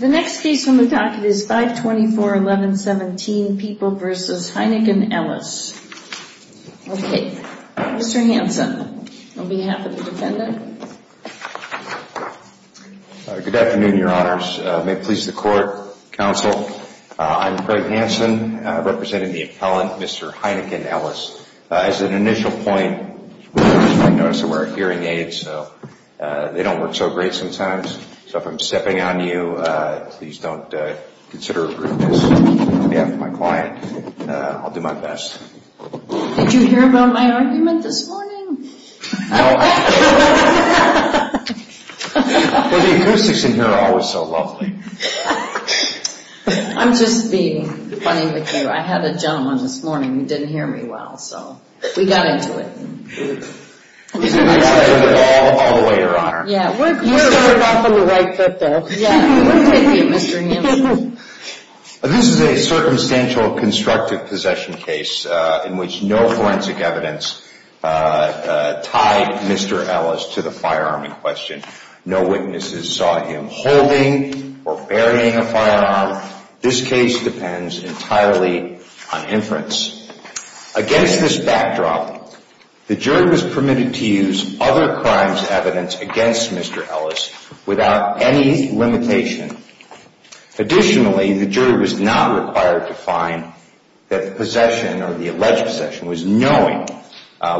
The next case on the packet is 524-1117, People v. Heineken-Ellis. Okay, Mr. Hanson, on behalf of the defendant. Good afternoon, your honors. May it please the court, counsel. I'm Craig Hanson, representing the appellant, Mr. Heineken-Ellis. As an initial point, you might notice that our hearing aids, they don't work so great sometimes, so if I'm stepping on you, please don't consider approving this on behalf of my client. I'll do my best. Did you hear about my argument this morning? No. Well, the acoustics in here are always so lovely. I'm just being funny with you. I had a gentleman this morning who didn't hear me well, so we got into it. All the way, your honor. You started off on the right foot there. This is a circumstantial constructive possession case in which no forensic evidence tied Mr. Ellis to the firearm in question. No witnesses saw him holding or burying a firearm. This case depends entirely on inference. Against this backdrop, the jury was permitted to use other crimes evidence against Mr. Ellis without any limitation. Additionally, the jury was not required to find that the possession or the alleged possession was knowing,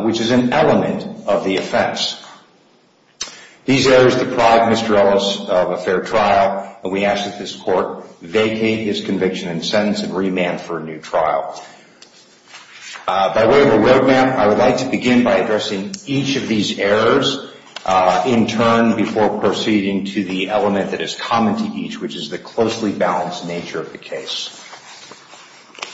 which is an element of the offense. These errors deprived Mr. Ellis of a fair trial, and we ask that this court vacate his conviction and sentence and remand for a new trial. By way of a road map, I would like to begin by addressing each of these errors in turn before proceeding to the element that is common to each, which is the closely balanced nature of the case.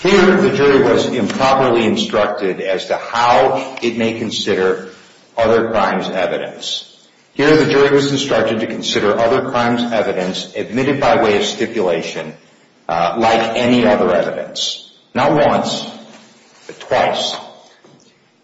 Here, the jury was improperly instructed as to how it may consider other crimes evidence. Here, the jury was instructed to consider other crimes evidence admitted by way of stipulation like any other evidence. Not once, but twice.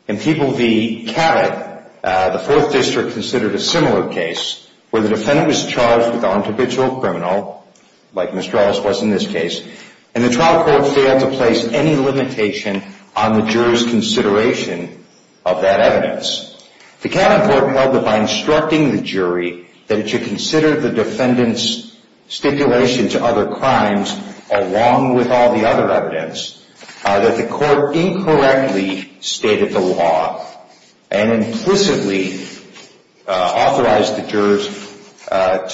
In People v. Cabot, the 4th District considered a similar case where the defendant was charged with the arbitrary criminal, like Mr. Ellis was in this case, and the trial court failed to place any limitation on the jury's consideration of that evidence. The Cabot court held that by instructing the jury that it should consider the defendant's stipulation to other crimes, along with all the other evidence, that the court incorrectly stated the law and implicitly authorized the jurors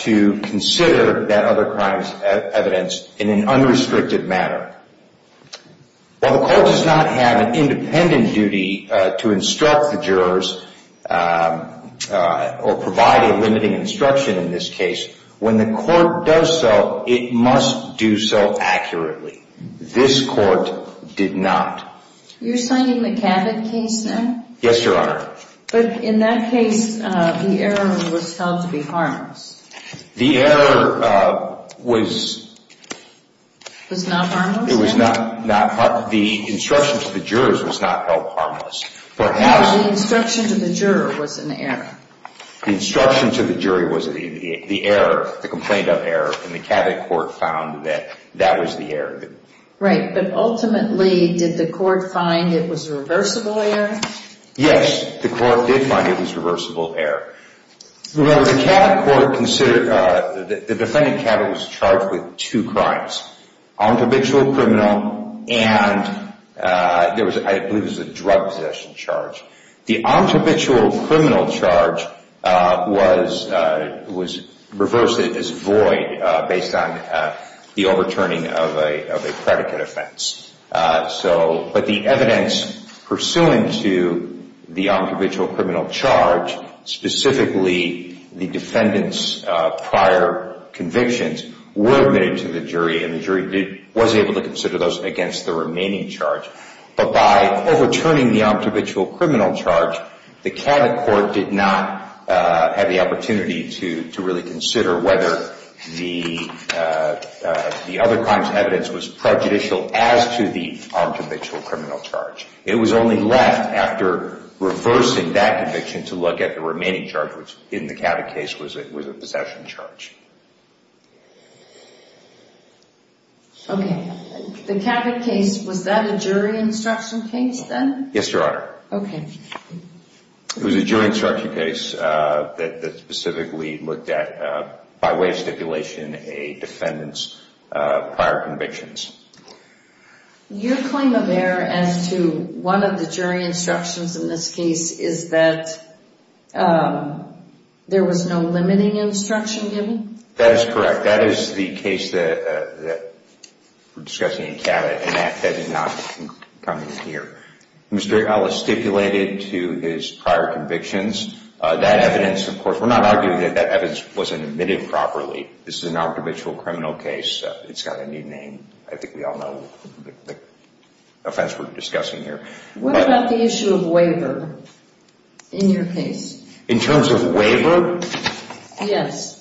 to consider that other crimes evidence in an unrestricted manner. While the court does not have an independent duty to instruct the jurors or provide a limiting instruction in this case, when the court does so, it must do so accurately. This court did not. You're citing the Cabot case now? Yes, Your Honor. But in that case, the error was held to be harmless. The error was... Was not harmless? It was not harmless. The instruction to the jurors was not held harmless. No, the instruction to the juror was an error. The instruction to the jury was the error, the complaint of error, and the Cabot court found that that was the error. Right, but ultimately, did the court find it was a reversible error? Yes, the court did find it was a reversible error. Well, the Cabot court considered... The defendant, Cabot, was charged with two crimes. Omtobitual criminal and I believe it was a drug possession charge. The omtobitual criminal charge was reversed as void based on the overturning of a predicate offense. But the evidence pursuant to the omtobitual criminal charge, specifically the defendant's prior convictions, were admitted to the jury and the jury was able to consider those against the remaining charge. But by overturning the omtobitual criminal charge, the Cabot court did not have the opportunity to really consider whether the other crimes evidence was prejudicial as to the omtobitual criminal charge. It was only left after reversing that conviction to look at the remaining charge, which in this case was the omtobitual criminal charge. Okay. The Cabot case, was that a jury instruction case then? Yes, Your Honor. Okay. It was a jury instruction case that specifically looked at, by way of stipulation, a defendant's prior convictions. Your claim of error as to one of the jury instructions in this case is that there was no limiting instruction given? That is correct. That is the case that we're discussing in Cabot and that did not come in here. Mr. Ellis stipulated to his prior convictions. That evidence, of course, we're not arguing that that evidence wasn't admitted properly. This is an omtobitual criminal case. It's got a new name. I think we all know the offense we're discussing here. What about the issue of waiver in your case? In terms of waiver? Yes.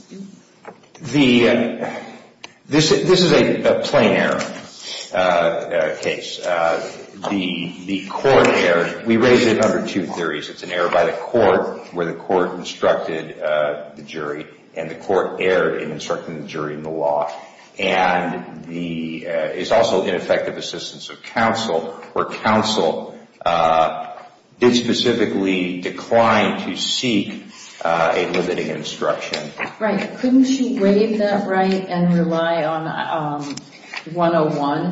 This is a plain error case. The court erred. We raised it under two theories. It's an error by the court where the court instructed the jury and the court erred in instructing the jury in the law. It's also ineffective assistance of counsel where counsel did specifically decline to seek a limiting instruction. Right. Couldn't she waive that right and rely on 101?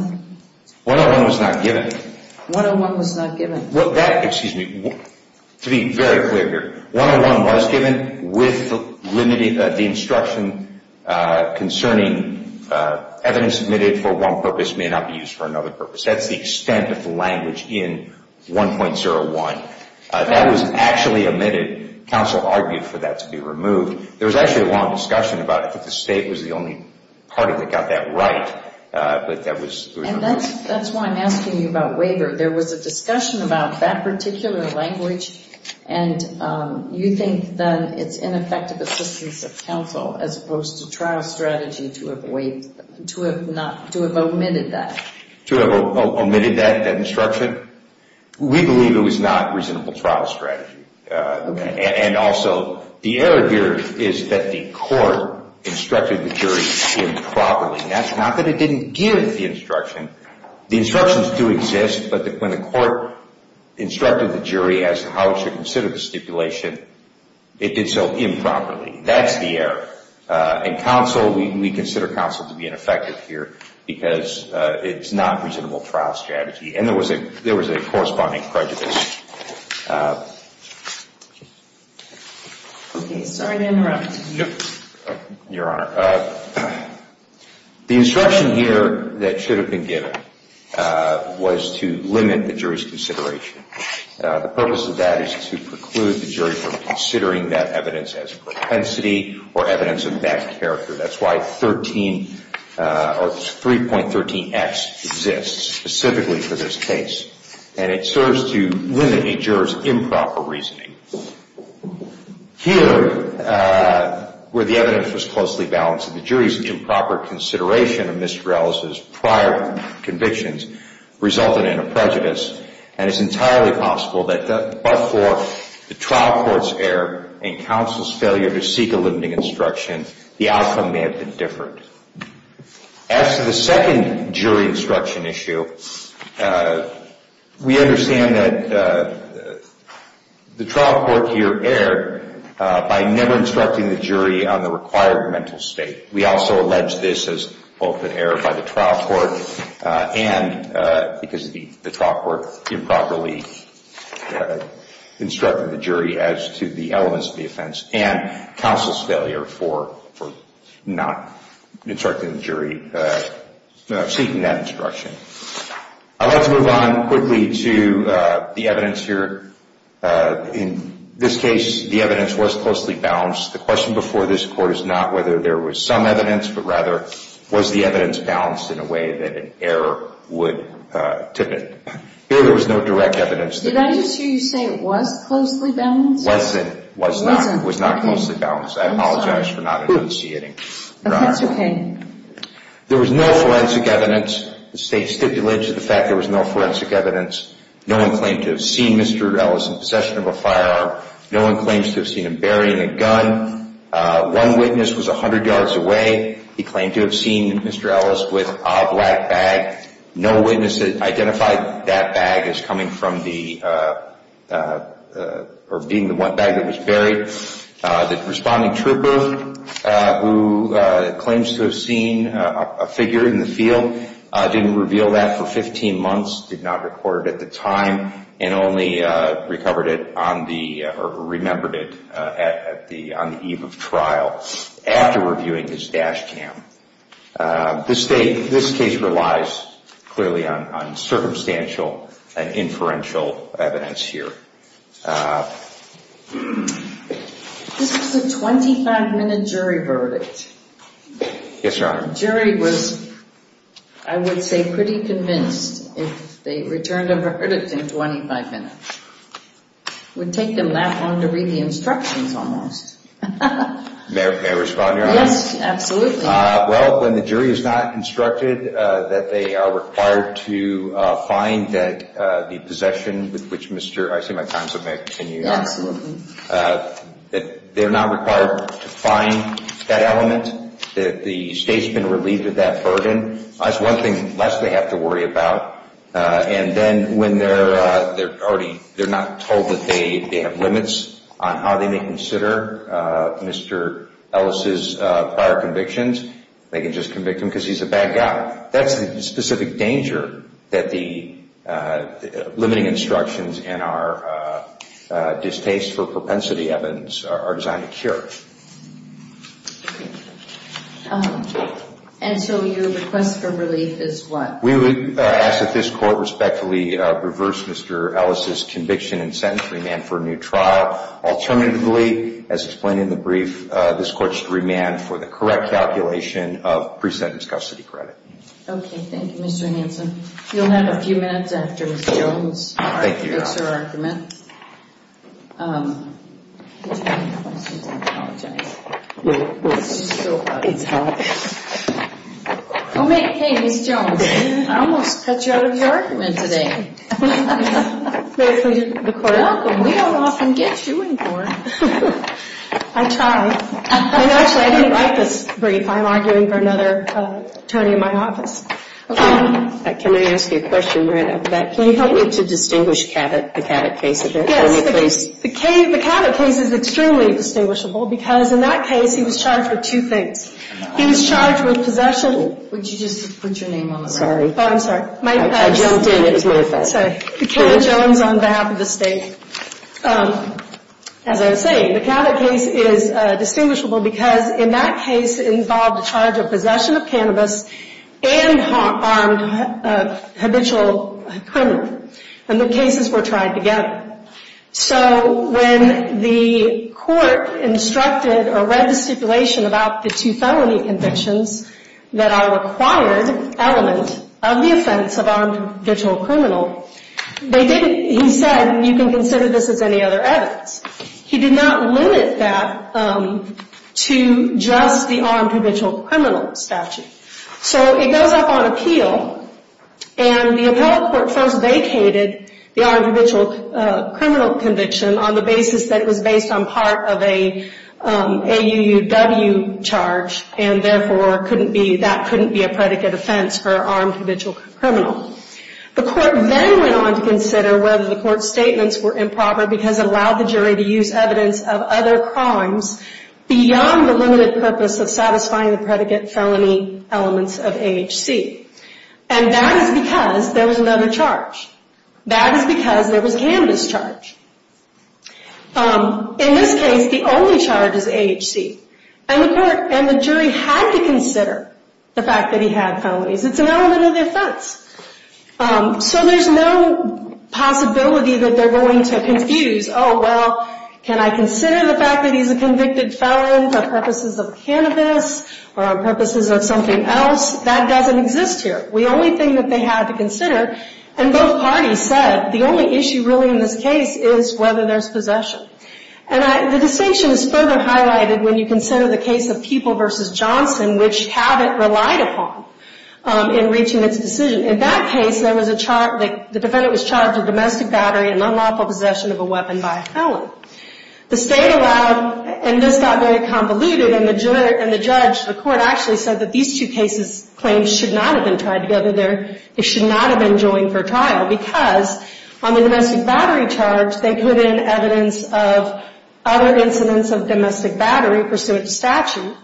101 was not given. 101 was not given. Evidence admitted for one purpose may not be used for another purpose. That's the extent of the language in 1.01. That was actually admitted. Counsel argued for that to be removed. There was actually a long discussion about if the state was the only part of it that got that right. That's why I'm asking you about waiver. There was a discussion about that particular language and you think then it's ineffective assistance of counsel as opposed to trial strategy to have omitted that? To have omitted that instruction? We believe it was not reasonable trial strategy. Also, the error here is that the court instructed the jury improperly. That's not that it didn't give the instruction. The instructions do exist, but when the court instructed the jury as to how it should consider the stipulation, it did so improperly. That's the error. We consider counsel to be ineffective here because it's not reasonable trial strategy. There was a corresponding prejudice. Sorry to interrupt. Your Honor. The instruction here that should have been given was to limit the jury's consideration. The purpose of that is to preclude the jury from considering that evidence as propensity or evidence of bad character. That's why 3.13X exists specifically for this case. It serves to limit a juror's improper reasoning. Here, where the evidence was closely balanced, the jury's improper consideration of Mr. Ellis' prior convictions resulted in a prejudice. It's entirely possible that before the trial court's error and counsel's failure to seek a limiting instruction, the outcome may have been different. As to the second jury instruction issue, we understand that the trial court here erred by never instructing the jury on the required mental state. We also allege this as both an error by the trial court and because the trial court improperly instructed the jury as to the elements of the offense and counsel's failure for not instructing the jury, seeking that instruction. I'd like to move on quickly to the evidence here. In this case, the evidence was closely balanced. The question before this court is not whether there was some evidence, but rather, was the evidence balanced in a way that an error would tip it? Here, there was no direct evidence. Did I just hear you say it was closely balanced? It wasn't. It was not closely balanced. I apologize for not enunciating. That's okay. There was no forensic evidence. The state stipulated to the fact there was no forensic evidence. No one claimed to have seen Mr. Ellis in possession of a firearm. No one claims to have seen him burying a gun. One witness was 100 yards away. He claimed to have seen Mr. Ellis with a black bag. No witness identified that bag as being the one bag that was buried. The responding trooper, who claims to have seen a figure in the field, didn't reveal that for 15 months, did not record it at the time, and only remembered it on the eve of trial, after reviewing his dash cam. This case relies clearly on circumstantial and inferential evidence here. This was a 25-minute jury verdict. Yes, Your Honor. The jury was, I would say, pretty convinced if they returned a verdict in 25 minutes. It would take them that long to read the instructions, almost. May I respond, Your Honor? Yes, absolutely. Well, when the jury is not instructed that they are required to find the possession with which Mr. Ellis, I see my time's up, may I continue? Absolutely. They're not required to find that element, that the state's been relieved of that burden. That's one thing less they have to worry about. And then, when they're already, they're not told that they have limits on how they may consider Mr. Ellis' prior convictions, they can just convict him because he's a bad guy. That's the specific danger that the limiting instructions and our distaste for propensity evidence are designed to cure. And so your request for relief is what? We would ask that this Court respectfully reverse Mr. Ellis' conviction and sentence remand for a new trial. Alternatively, as explained in the brief, this Court should remand for the correct calculation of pre-sentence custody credit. Okay, thank you, Mr. Hanson. You'll have a few minutes after Ms. Jones makes her argument. Thank you, Your Honor. Hey, Ms. Jones, I almost cut you out of your argument today. Welcome, we don't often get you in court. I try. Actually, I didn't write this brief. I'm arguing for another attorney in my office. Can I ask you a question right off the bat? Can you help me to distinguish the Cabot case a bit? Yes, the Cabot case is extremely distinguishable because in that case he was charged with two things. He was charged with possession... Would you just put your name on the record? Oh, I'm sorry. I jumped in, it was my fault. Ms. Jones, on behalf of the State. As I was saying, the Cabot case is distinguishable because in that case it involved the charge of possession of cannabis and armed habitual criminal. And the cases were tried together. So when the Court instructed or read the stipulation about the two felony convictions that are a required element of the offense of armed habitual criminal they didn't... He said, you can consider this as any other evidence. He did not limit that to just the armed habitual criminal statute. So it goes up on appeal and the appellate court first vacated the armed habitual criminal conviction on the basis that it was based on part of a AUUW charge and therefore that couldn't be a predicate offense for armed habitual criminal. The Court then went on to consider whether the Court's statements were improper because it allowed the jury to use evidence of other crimes beyond the limited purpose of satisfying the predicate felony elements of AHC. And that is because there was another charge. That is because there was a cannabis charge. In this case, the only charge is AHC. And the jury had to consider the fact that he had felonies. It's an element of the offense. So there's no possibility that they're going to confuse. Oh, well, can I consider the fact that he's a convicted felon for purposes of cannabis or purposes of something else? That doesn't exist here. The only thing that they had to consider and both parties said the only issue really in this case is whether there's possession. And the distinction is further highlighted when you consider the case of People v. Johnson which have it relied upon. In reaching its decision. In that case, the defendant was charged with domestic battery and unlawful possession of a weapon by a felon. The State allowed, and this got very convoluted, and the judge, the Court actually said that these two cases' claims should not have been tied together. They should not have been joined for trial because on the domestic battery charge they put in evidence of other incidents of domestic battery pursuant to statute.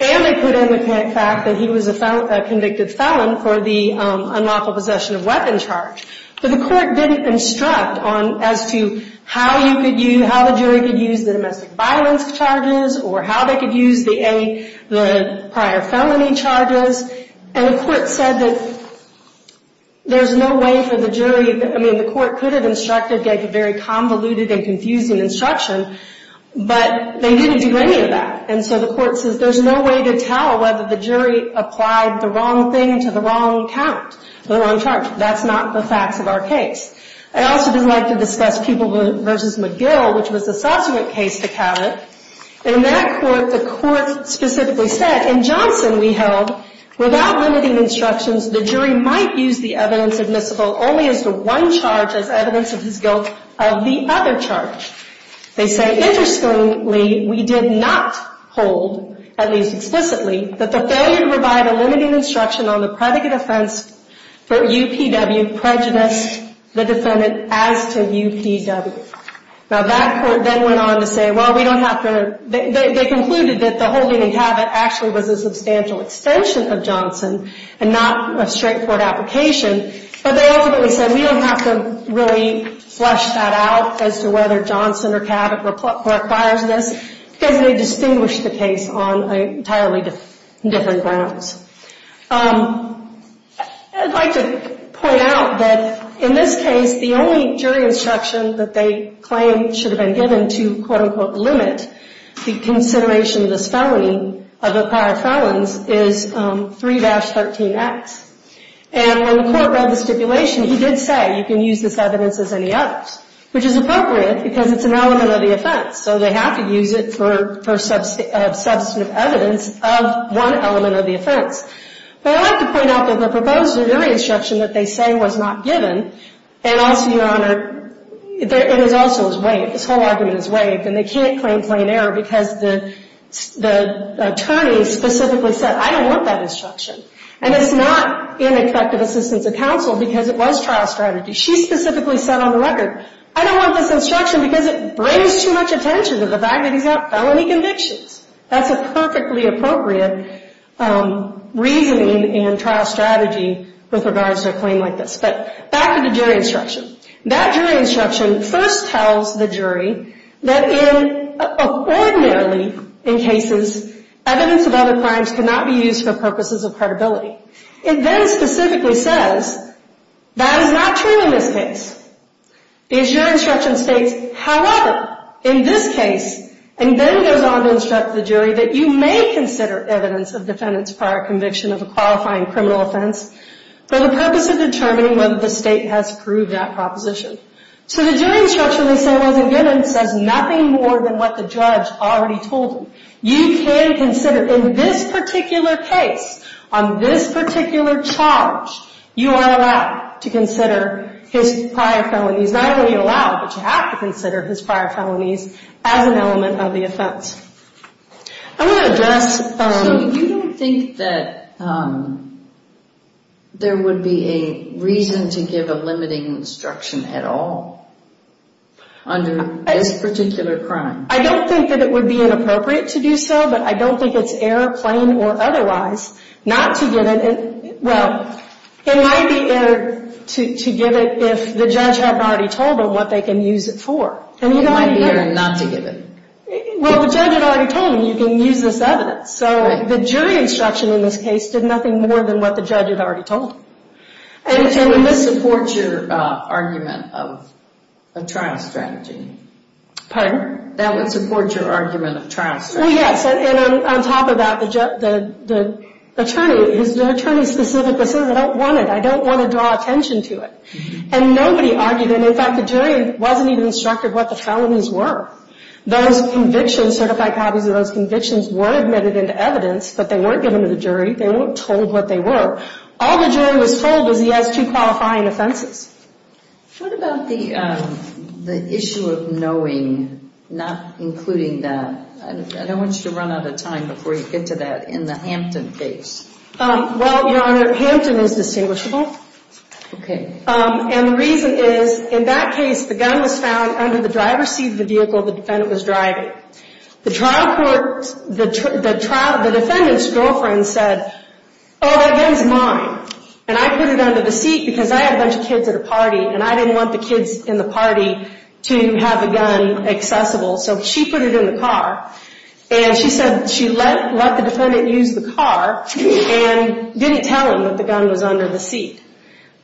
And they put in the fact that he was a convicted felon for the unlawful possession of weapon charge. But the Court didn't instruct as to how you could use, how the jury could use the domestic violence charges or how they could use the prior felony charges. And the Court said that there's no way for the jury, I mean, the Court could have instructed, gave a very convoluted and confusing instruction, but they didn't do any of that. And so the Court says there's no way to tell whether the jury applied the wrong thing to the wrong count, to the wrong charge. That's not the facts of our case. I also would like to discuss Pupil v. McGill, which was a subsequent case to Cabot. And in that court, the Court specifically said, in Johnson we held, without limiting instructions, the jury might use the evidence admissible only as to one charge as evidence of his guilt of the other charge. They say, interestingly, we did not hold, at least explicitly, that the failure to provide a limiting instruction on the predicate offense for UPW prejudiced the defendant as to UPW. Now that court then went on to say, well, we don't have to, they concluded that the holding in Cabot actually was a substantial extension of Johnson and not a straightforward application. But they ultimately said, we don't have to really flesh that out as to whether Johnson or Cabot requires this because they distinguish the case on entirely different grounds. I'd like to point out that in this case, the only jury instruction that they claim should have been given to quote-unquote limit the consideration of this felony, of the prior felons, is 3-13X. And when the Court read the stipulation, he did say, you can use this evidence as any others, which is appropriate because it's an element of the offense. So they have to use it for substantive evidence of one element of the offense. But I'd like to point out that the proposed jury instruction that they say was not given, and also, Your Honor, it is also is waived. This whole argument is waived, and they can't claim plain error because the attorney specifically said, I don't want that instruction. And it's not ineffective assistance of counsel because it was trial strategy. She specifically said on the record, I don't want this instruction because it brings too much attention to the fact that he's got felony convictions. That's a perfectly appropriate reasoning and trial strategy with regards to a claim like this. But back to the jury instruction. That jury instruction first tells the jury that ordinarily in cases, evidence of other crimes cannot be used for purposes of credibility. It then specifically says, that is not true in this case. Because your instruction states, however, in this case, and then goes on to instruct the jury that you may consider evidence of defendant's prior conviction of a qualifying criminal offense for the purpose of determining whether the state has approved that proposition. So the jury instruction they say wasn't given says nothing more than what the judge already told them. You can consider in this particular case, on this particular charge, you are allowed to consider his prior felonies. Not only allowed, but you have to consider his prior felonies as an element of the offense. I'm going to address... So you don't think that there would be a reason to give a limiting instruction at all under this particular crime? I don't think that it would be inappropriate to do so, but I don't think it's error, plain or otherwise, not to give it... Well, it might be error to give it if the judge had already told them what they can use it for. It might be error not to give it. Well, the judge had already told them you can use this evidence. So the jury instruction in this case did nothing more than what the judge had already told them. And it would support your argument of a trial strategy. Pardon? That would support your argument of trial strategy. Well, yes. And on top of that, the attorney, the attorney specifically said, I don't want it. I don't want to draw attention to it. And nobody argued it. In fact, the jury wasn't even instructed what the felonies were. Those convictions, certified copies of those convictions, were admitted into evidence, but they weren't given to the jury. They weren't told what they were. All the jury was told was he has two qualifying offenses. What about the issue of knowing, not including that? I don't want you to run out of time before you get to that, in the Hampton case. Well, Your Honor, Hampton is distinguishable. Okay. And the reason is, in that case, the gun was found under the driver's seat of the vehicle the defendant was driving. The trial court, the defendant's girlfriend said, oh, that gun's mine. And I put it under the seat because I had a bunch of kids at a party, and I didn't want the kids in the party to have a gun accessible. So she put it in the car. And she said she let the defendant use the car and didn't tell him that the gun was under the seat.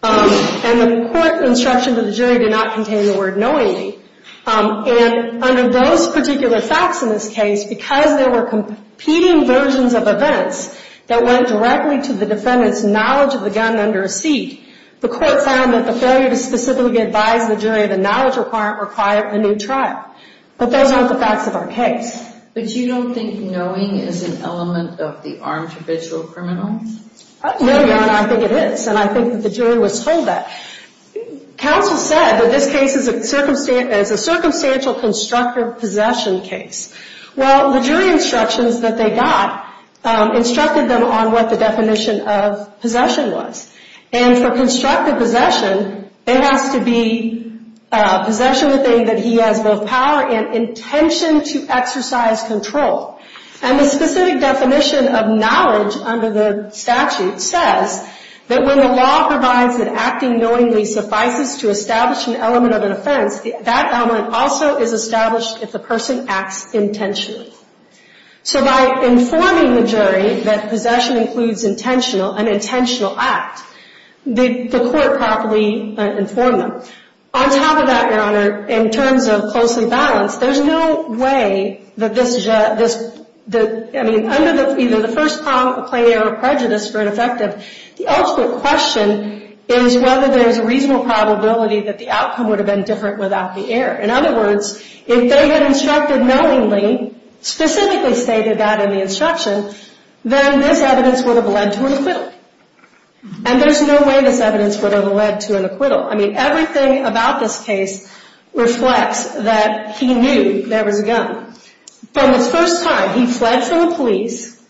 And the court instruction to the jury did not contain the word knowingly. And under those particular facts in this case, because there were competing versions of events that went directly to the defendant's knowledge of the gun under a seat, the court found that the failure to specifically advise the jury of a knowledge requirement required a new trial. But those aren't the facts of our case. But you don't think knowing is an element of the armed habitual criminal? No, Your Honor, I think it is. And I think that the jury was told that. Counsel said that this case is a circumstantial constructive possession case. Well, the jury instructions that they got instructed them on what the definition of possession was. And for constructive possession, it has to be possession that he has both power and intention to exercise control. And the specific definition of knowledge under the statute says that when the law provides that acting knowingly suffices to establish an element of an offense, that element also is established if the person acts intentionally. So by informing the jury that possession includes an intentional act, the court properly informed them. On top of that, Your Honor, in terms of closely balanced, there's no way that this... I mean, under either the first claim or prejudice for ineffective, the ultimate question is whether there's a reasonable probability that the outcome would have been different without the error. In other words, if they had instructed knowingly, specifically stated that in the instruction, then this evidence would have led to an acquittal. And there's no way this evidence would have led to an acquittal. I mean, everything about this case reflects that he knew there was a gun. From the first time, he fled from the police,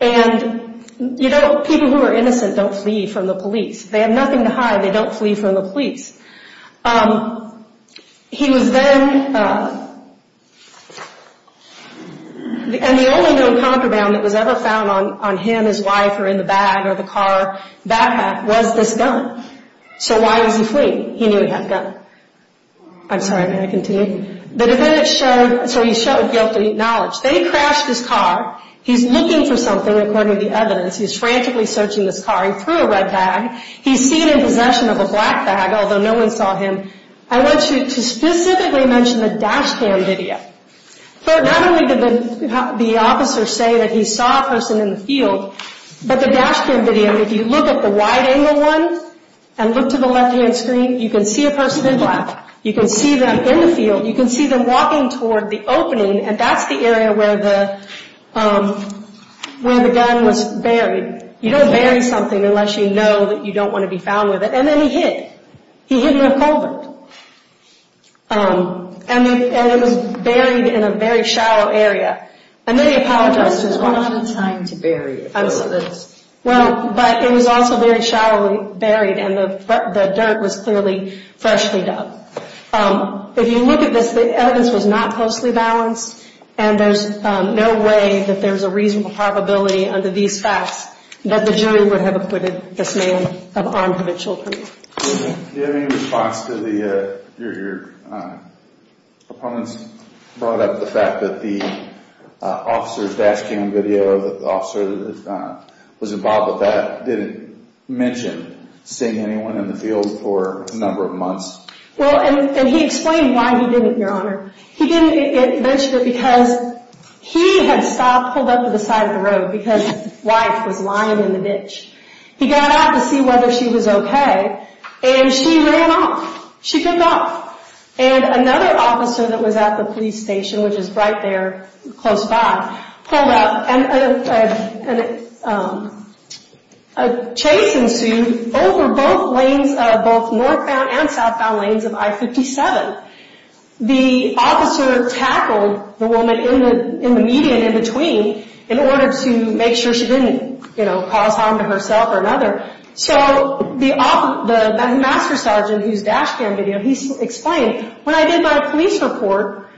and, you know, people who are innocent don't flee from the police. They have nothing to hide. They don't flee from the police. He was then... And the only known compromise that was ever found on him, his wife, or in the bag or the car backpack was this gun. So why was he fleeing? He knew he had a gun. I'm sorry, may I continue? The defendant showed... So he showed guilty knowledge. They crashed his car. He's looking for something, according to the evidence. He's frantically searching this car. He threw a red bag. He's seen in possession of a black bag, although no one saw him. I want you to specifically mention the dash cam video. For not only did the officer say that he saw a person in the field, but the dash cam video, if you look at the wide-angle one, and look to the left-hand screen, you can see a person in black. You can see them in the field. You can see them walking toward the opening, and that's the area where the gun was buried. You don't bury something unless you know that you don't want to be found with it. And then he hid. He hid in a culvert. And it was buried in a very shallow area. And then he apologized to his wife. He didn't have time to bury it. But it was also very shallow and buried, and the dirt was clearly freshly dug. If you look at this, the evidence was not closely balanced, and there's no way that there's a reasonable probability under these facts that the jury would have acquitted this man of armed eventual crime. Do you have any response to your opponent's brought up, the fact that the officer's dash cam video of the officer that was involved with that didn't mention seeing anyone in the field for a number of months? Well, and he explained why he didn't, Your Honor. He didn't mention it because he had stopped, pulled up to the side of the road because his wife was lying in the ditch. He got out to see whether she was okay, and she ran off. She took off. And another officer that was at the police station, which is right there close by, pulled up, and a chase ensued over both northbound and southbound lanes of I-57. The officer tackled the woman in the median in between in order to make sure she didn't cause harm to herself or another. So the master sergeant, whose dash cam video, he explained, when I did my police report,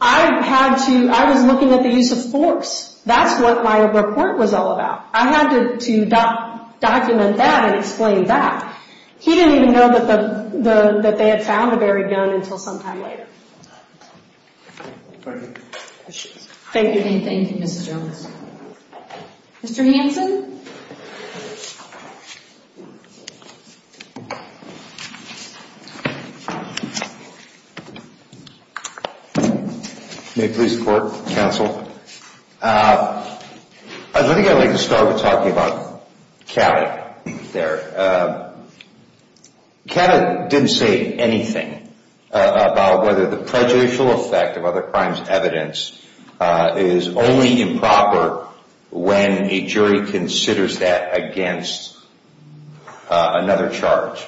I had to... I was looking at the use of force. That's what my report was all about. I had to document that and explain that. He didn't even know that they had found the buried gun until some time later. Thank you. Thank you, Mrs. Jones. Mr. Hanson? May it please the court, counsel? I think I'd like to start with talking about Kavett there. Kavett didn't say anything about whether the prejudicial effect of other crimes evidence is only improper when a jury considers that against another charge.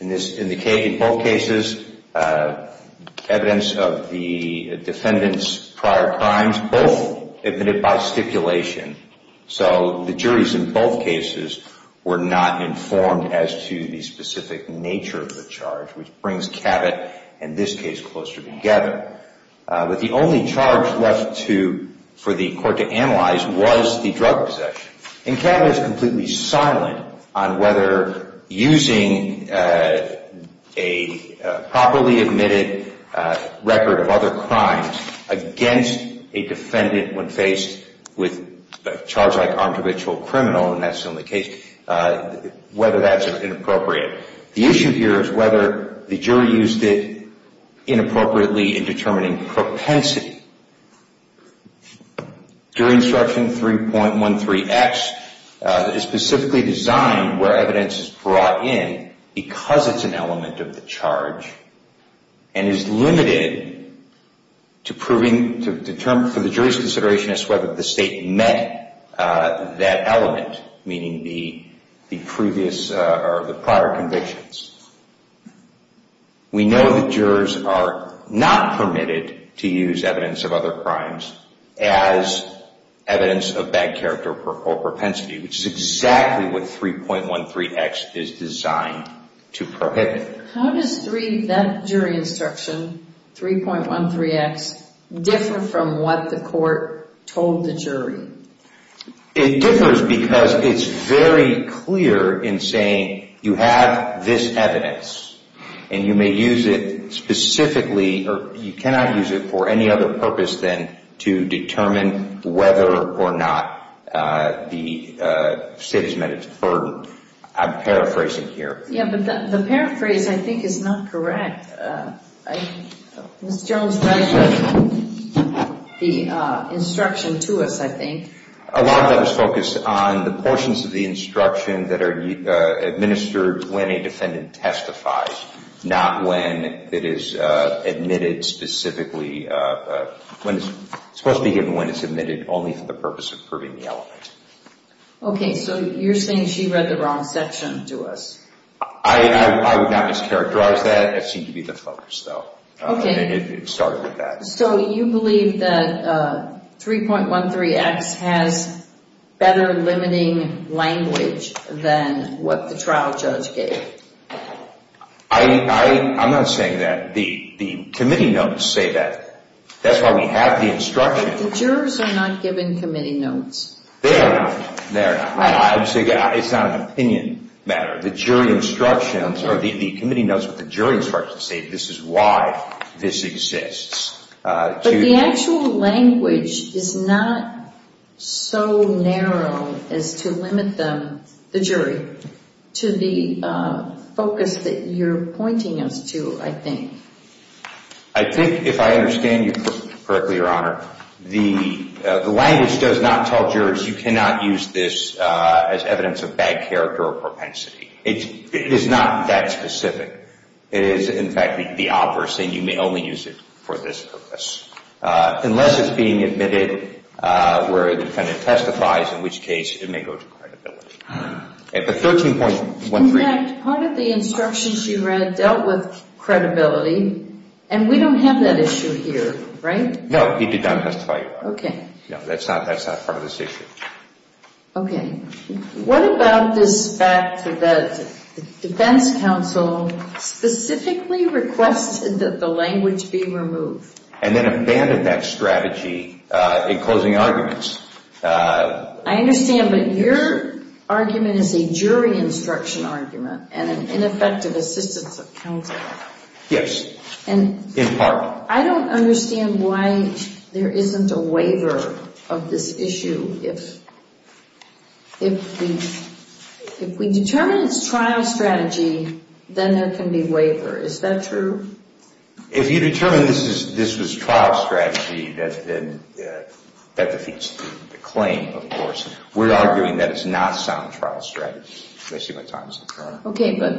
In both cases, evidence of the defendant's prior crimes, both admitted by stipulation. So the juries in both cases were not informed as to the specific nature of the charge, which brings Kavett and this case closer together. But the only charge left to... for the court to analyze was the drug possession. And Kavett is completely silent on whether using a properly admitted record of other crimes against a defendant when faced with a charge like armed habitual criminal, and that's still the case, whether that's inappropriate. The issue here is whether the jury used it inappropriately in determining propensity. Jury instruction 3.13X is specifically designed where evidence is brought in because it's an element of the charge and is limited to proving, to determine for the jury's consideration as to whether the state met that element, meaning the previous or the prior convictions. We know that jurors are not permitted to use evidence of other crimes as evidence of bad character or propensity, which is exactly what 3.13X is designed to prohibit. How does that jury instruction, 3.13X, differ from what the court told the jury? It differs because it's very clear in saying you have this evidence and you may use it specifically or you cannot use it for any other purpose than to determine whether or not the state has met its burden. I'm paraphrasing here. Yeah, but the paraphrase I think is not correct. Mr. Jones, that is the instruction to us, I think. A lot of that is focused on the portions of the instruction that are administered when a defendant testifies, not when it is admitted specifically. It's supposed to be given when it's admitted only for the purpose of proving the element. Okay, so you're saying she read the wrong section to us. I would not mischaracterize that. That seemed to be the focus, though. Okay. It started with that. So you believe that 3.13X has better limiting language than what the trial judge gave? I'm not saying that. The committee notes say that. That's why we have the instruction. The jurors are not given committee notes. They are not. It's not an opinion matter. The jury instructions, or the committee notes with the jury instructions say this is why this exists. But the actual language is not so narrow as to limit the jury to the focus that you're pointing us to, I think. I think if I understand you correctly, Your Honor, the language does not tell jurors you cannot use this as evidence of bad character or propensity. It is not that specific. It is, in fact, the opposite, and you may only use it for this purpose. Unless it's being admitted where a defendant testifies, in which case, it may go to credibility. But 13.13... In fact, part of the instructions you read dealt with credibility, and we don't have that issue here, right? No, he did not testify. Okay. No, that's not part of this issue. Okay. What about this fact that the defense counsel specifically requested that the language be removed? And then abandoned that strategy in closing arguments. I understand, but your argument is a jury instruction argument and an ineffective assistance of counsel. Yes, in part. I don't understand why there isn't a waiver of this issue. If we determine it's trial strategy, then there can be waiver. Is that true? If you determine this was trial strategy, that defeats the claim, of course. We're arguing that it's not sound trial strategy. Did I say my time's up? Okay, but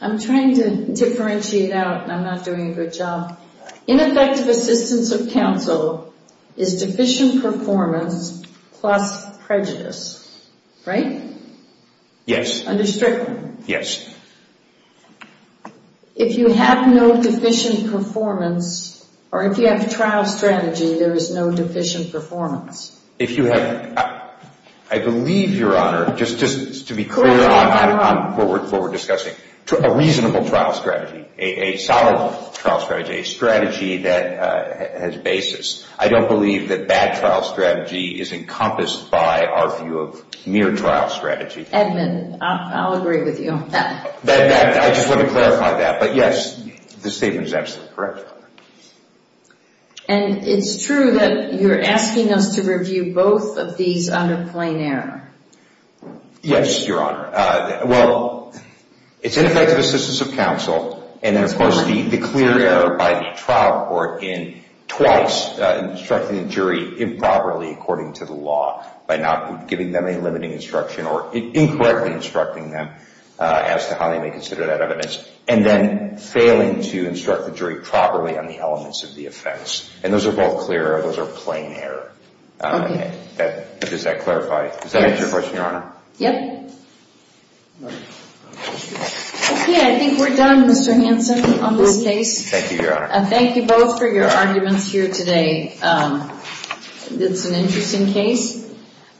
I'm trying to differentiate out, and I'm not doing a good job. Ineffective assistance of counsel is deficient performance plus prejudice. Right? Yes. Under Strickland. Yes. If you have no deficient performance, or if you have trial strategy, there is no deficient performance. If you have... I believe, Your Honor, just to be clear on what we're discussing, a reasonable trial strategy, a solid trial strategy, a strategy that has basis. I don't believe that bad trial strategy is encompassed by our view of mere trial strategy. Edmund, I'll agree with you. I just want to clarify that. But yes, the statement is absolutely correct. And it's true that you're asking us to review both of these under plain error. Yes, Your Honor. Well, it's ineffective assistance of counsel, and then, of course, the clear error by the trial court in twice instructing the jury improperly according to the law by not giving them a limiting instruction or incorrectly instructing them as to how they may consider that evidence, and then failing to instruct the jury properly on the elements of the offense. And those are both clear error. Those are plain error. Okay. Does that clarify? Yes. Does that answer your question, Your Honor? Yep. Okay. I think we're done, Mr. Hanson, on this case. Thank you, Your Honor. Thank you both for your arguments here today. It's an interesting case.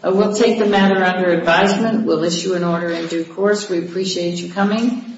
We'll take the matter under advisement. We'll issue an order in due course. We appreciate you coming.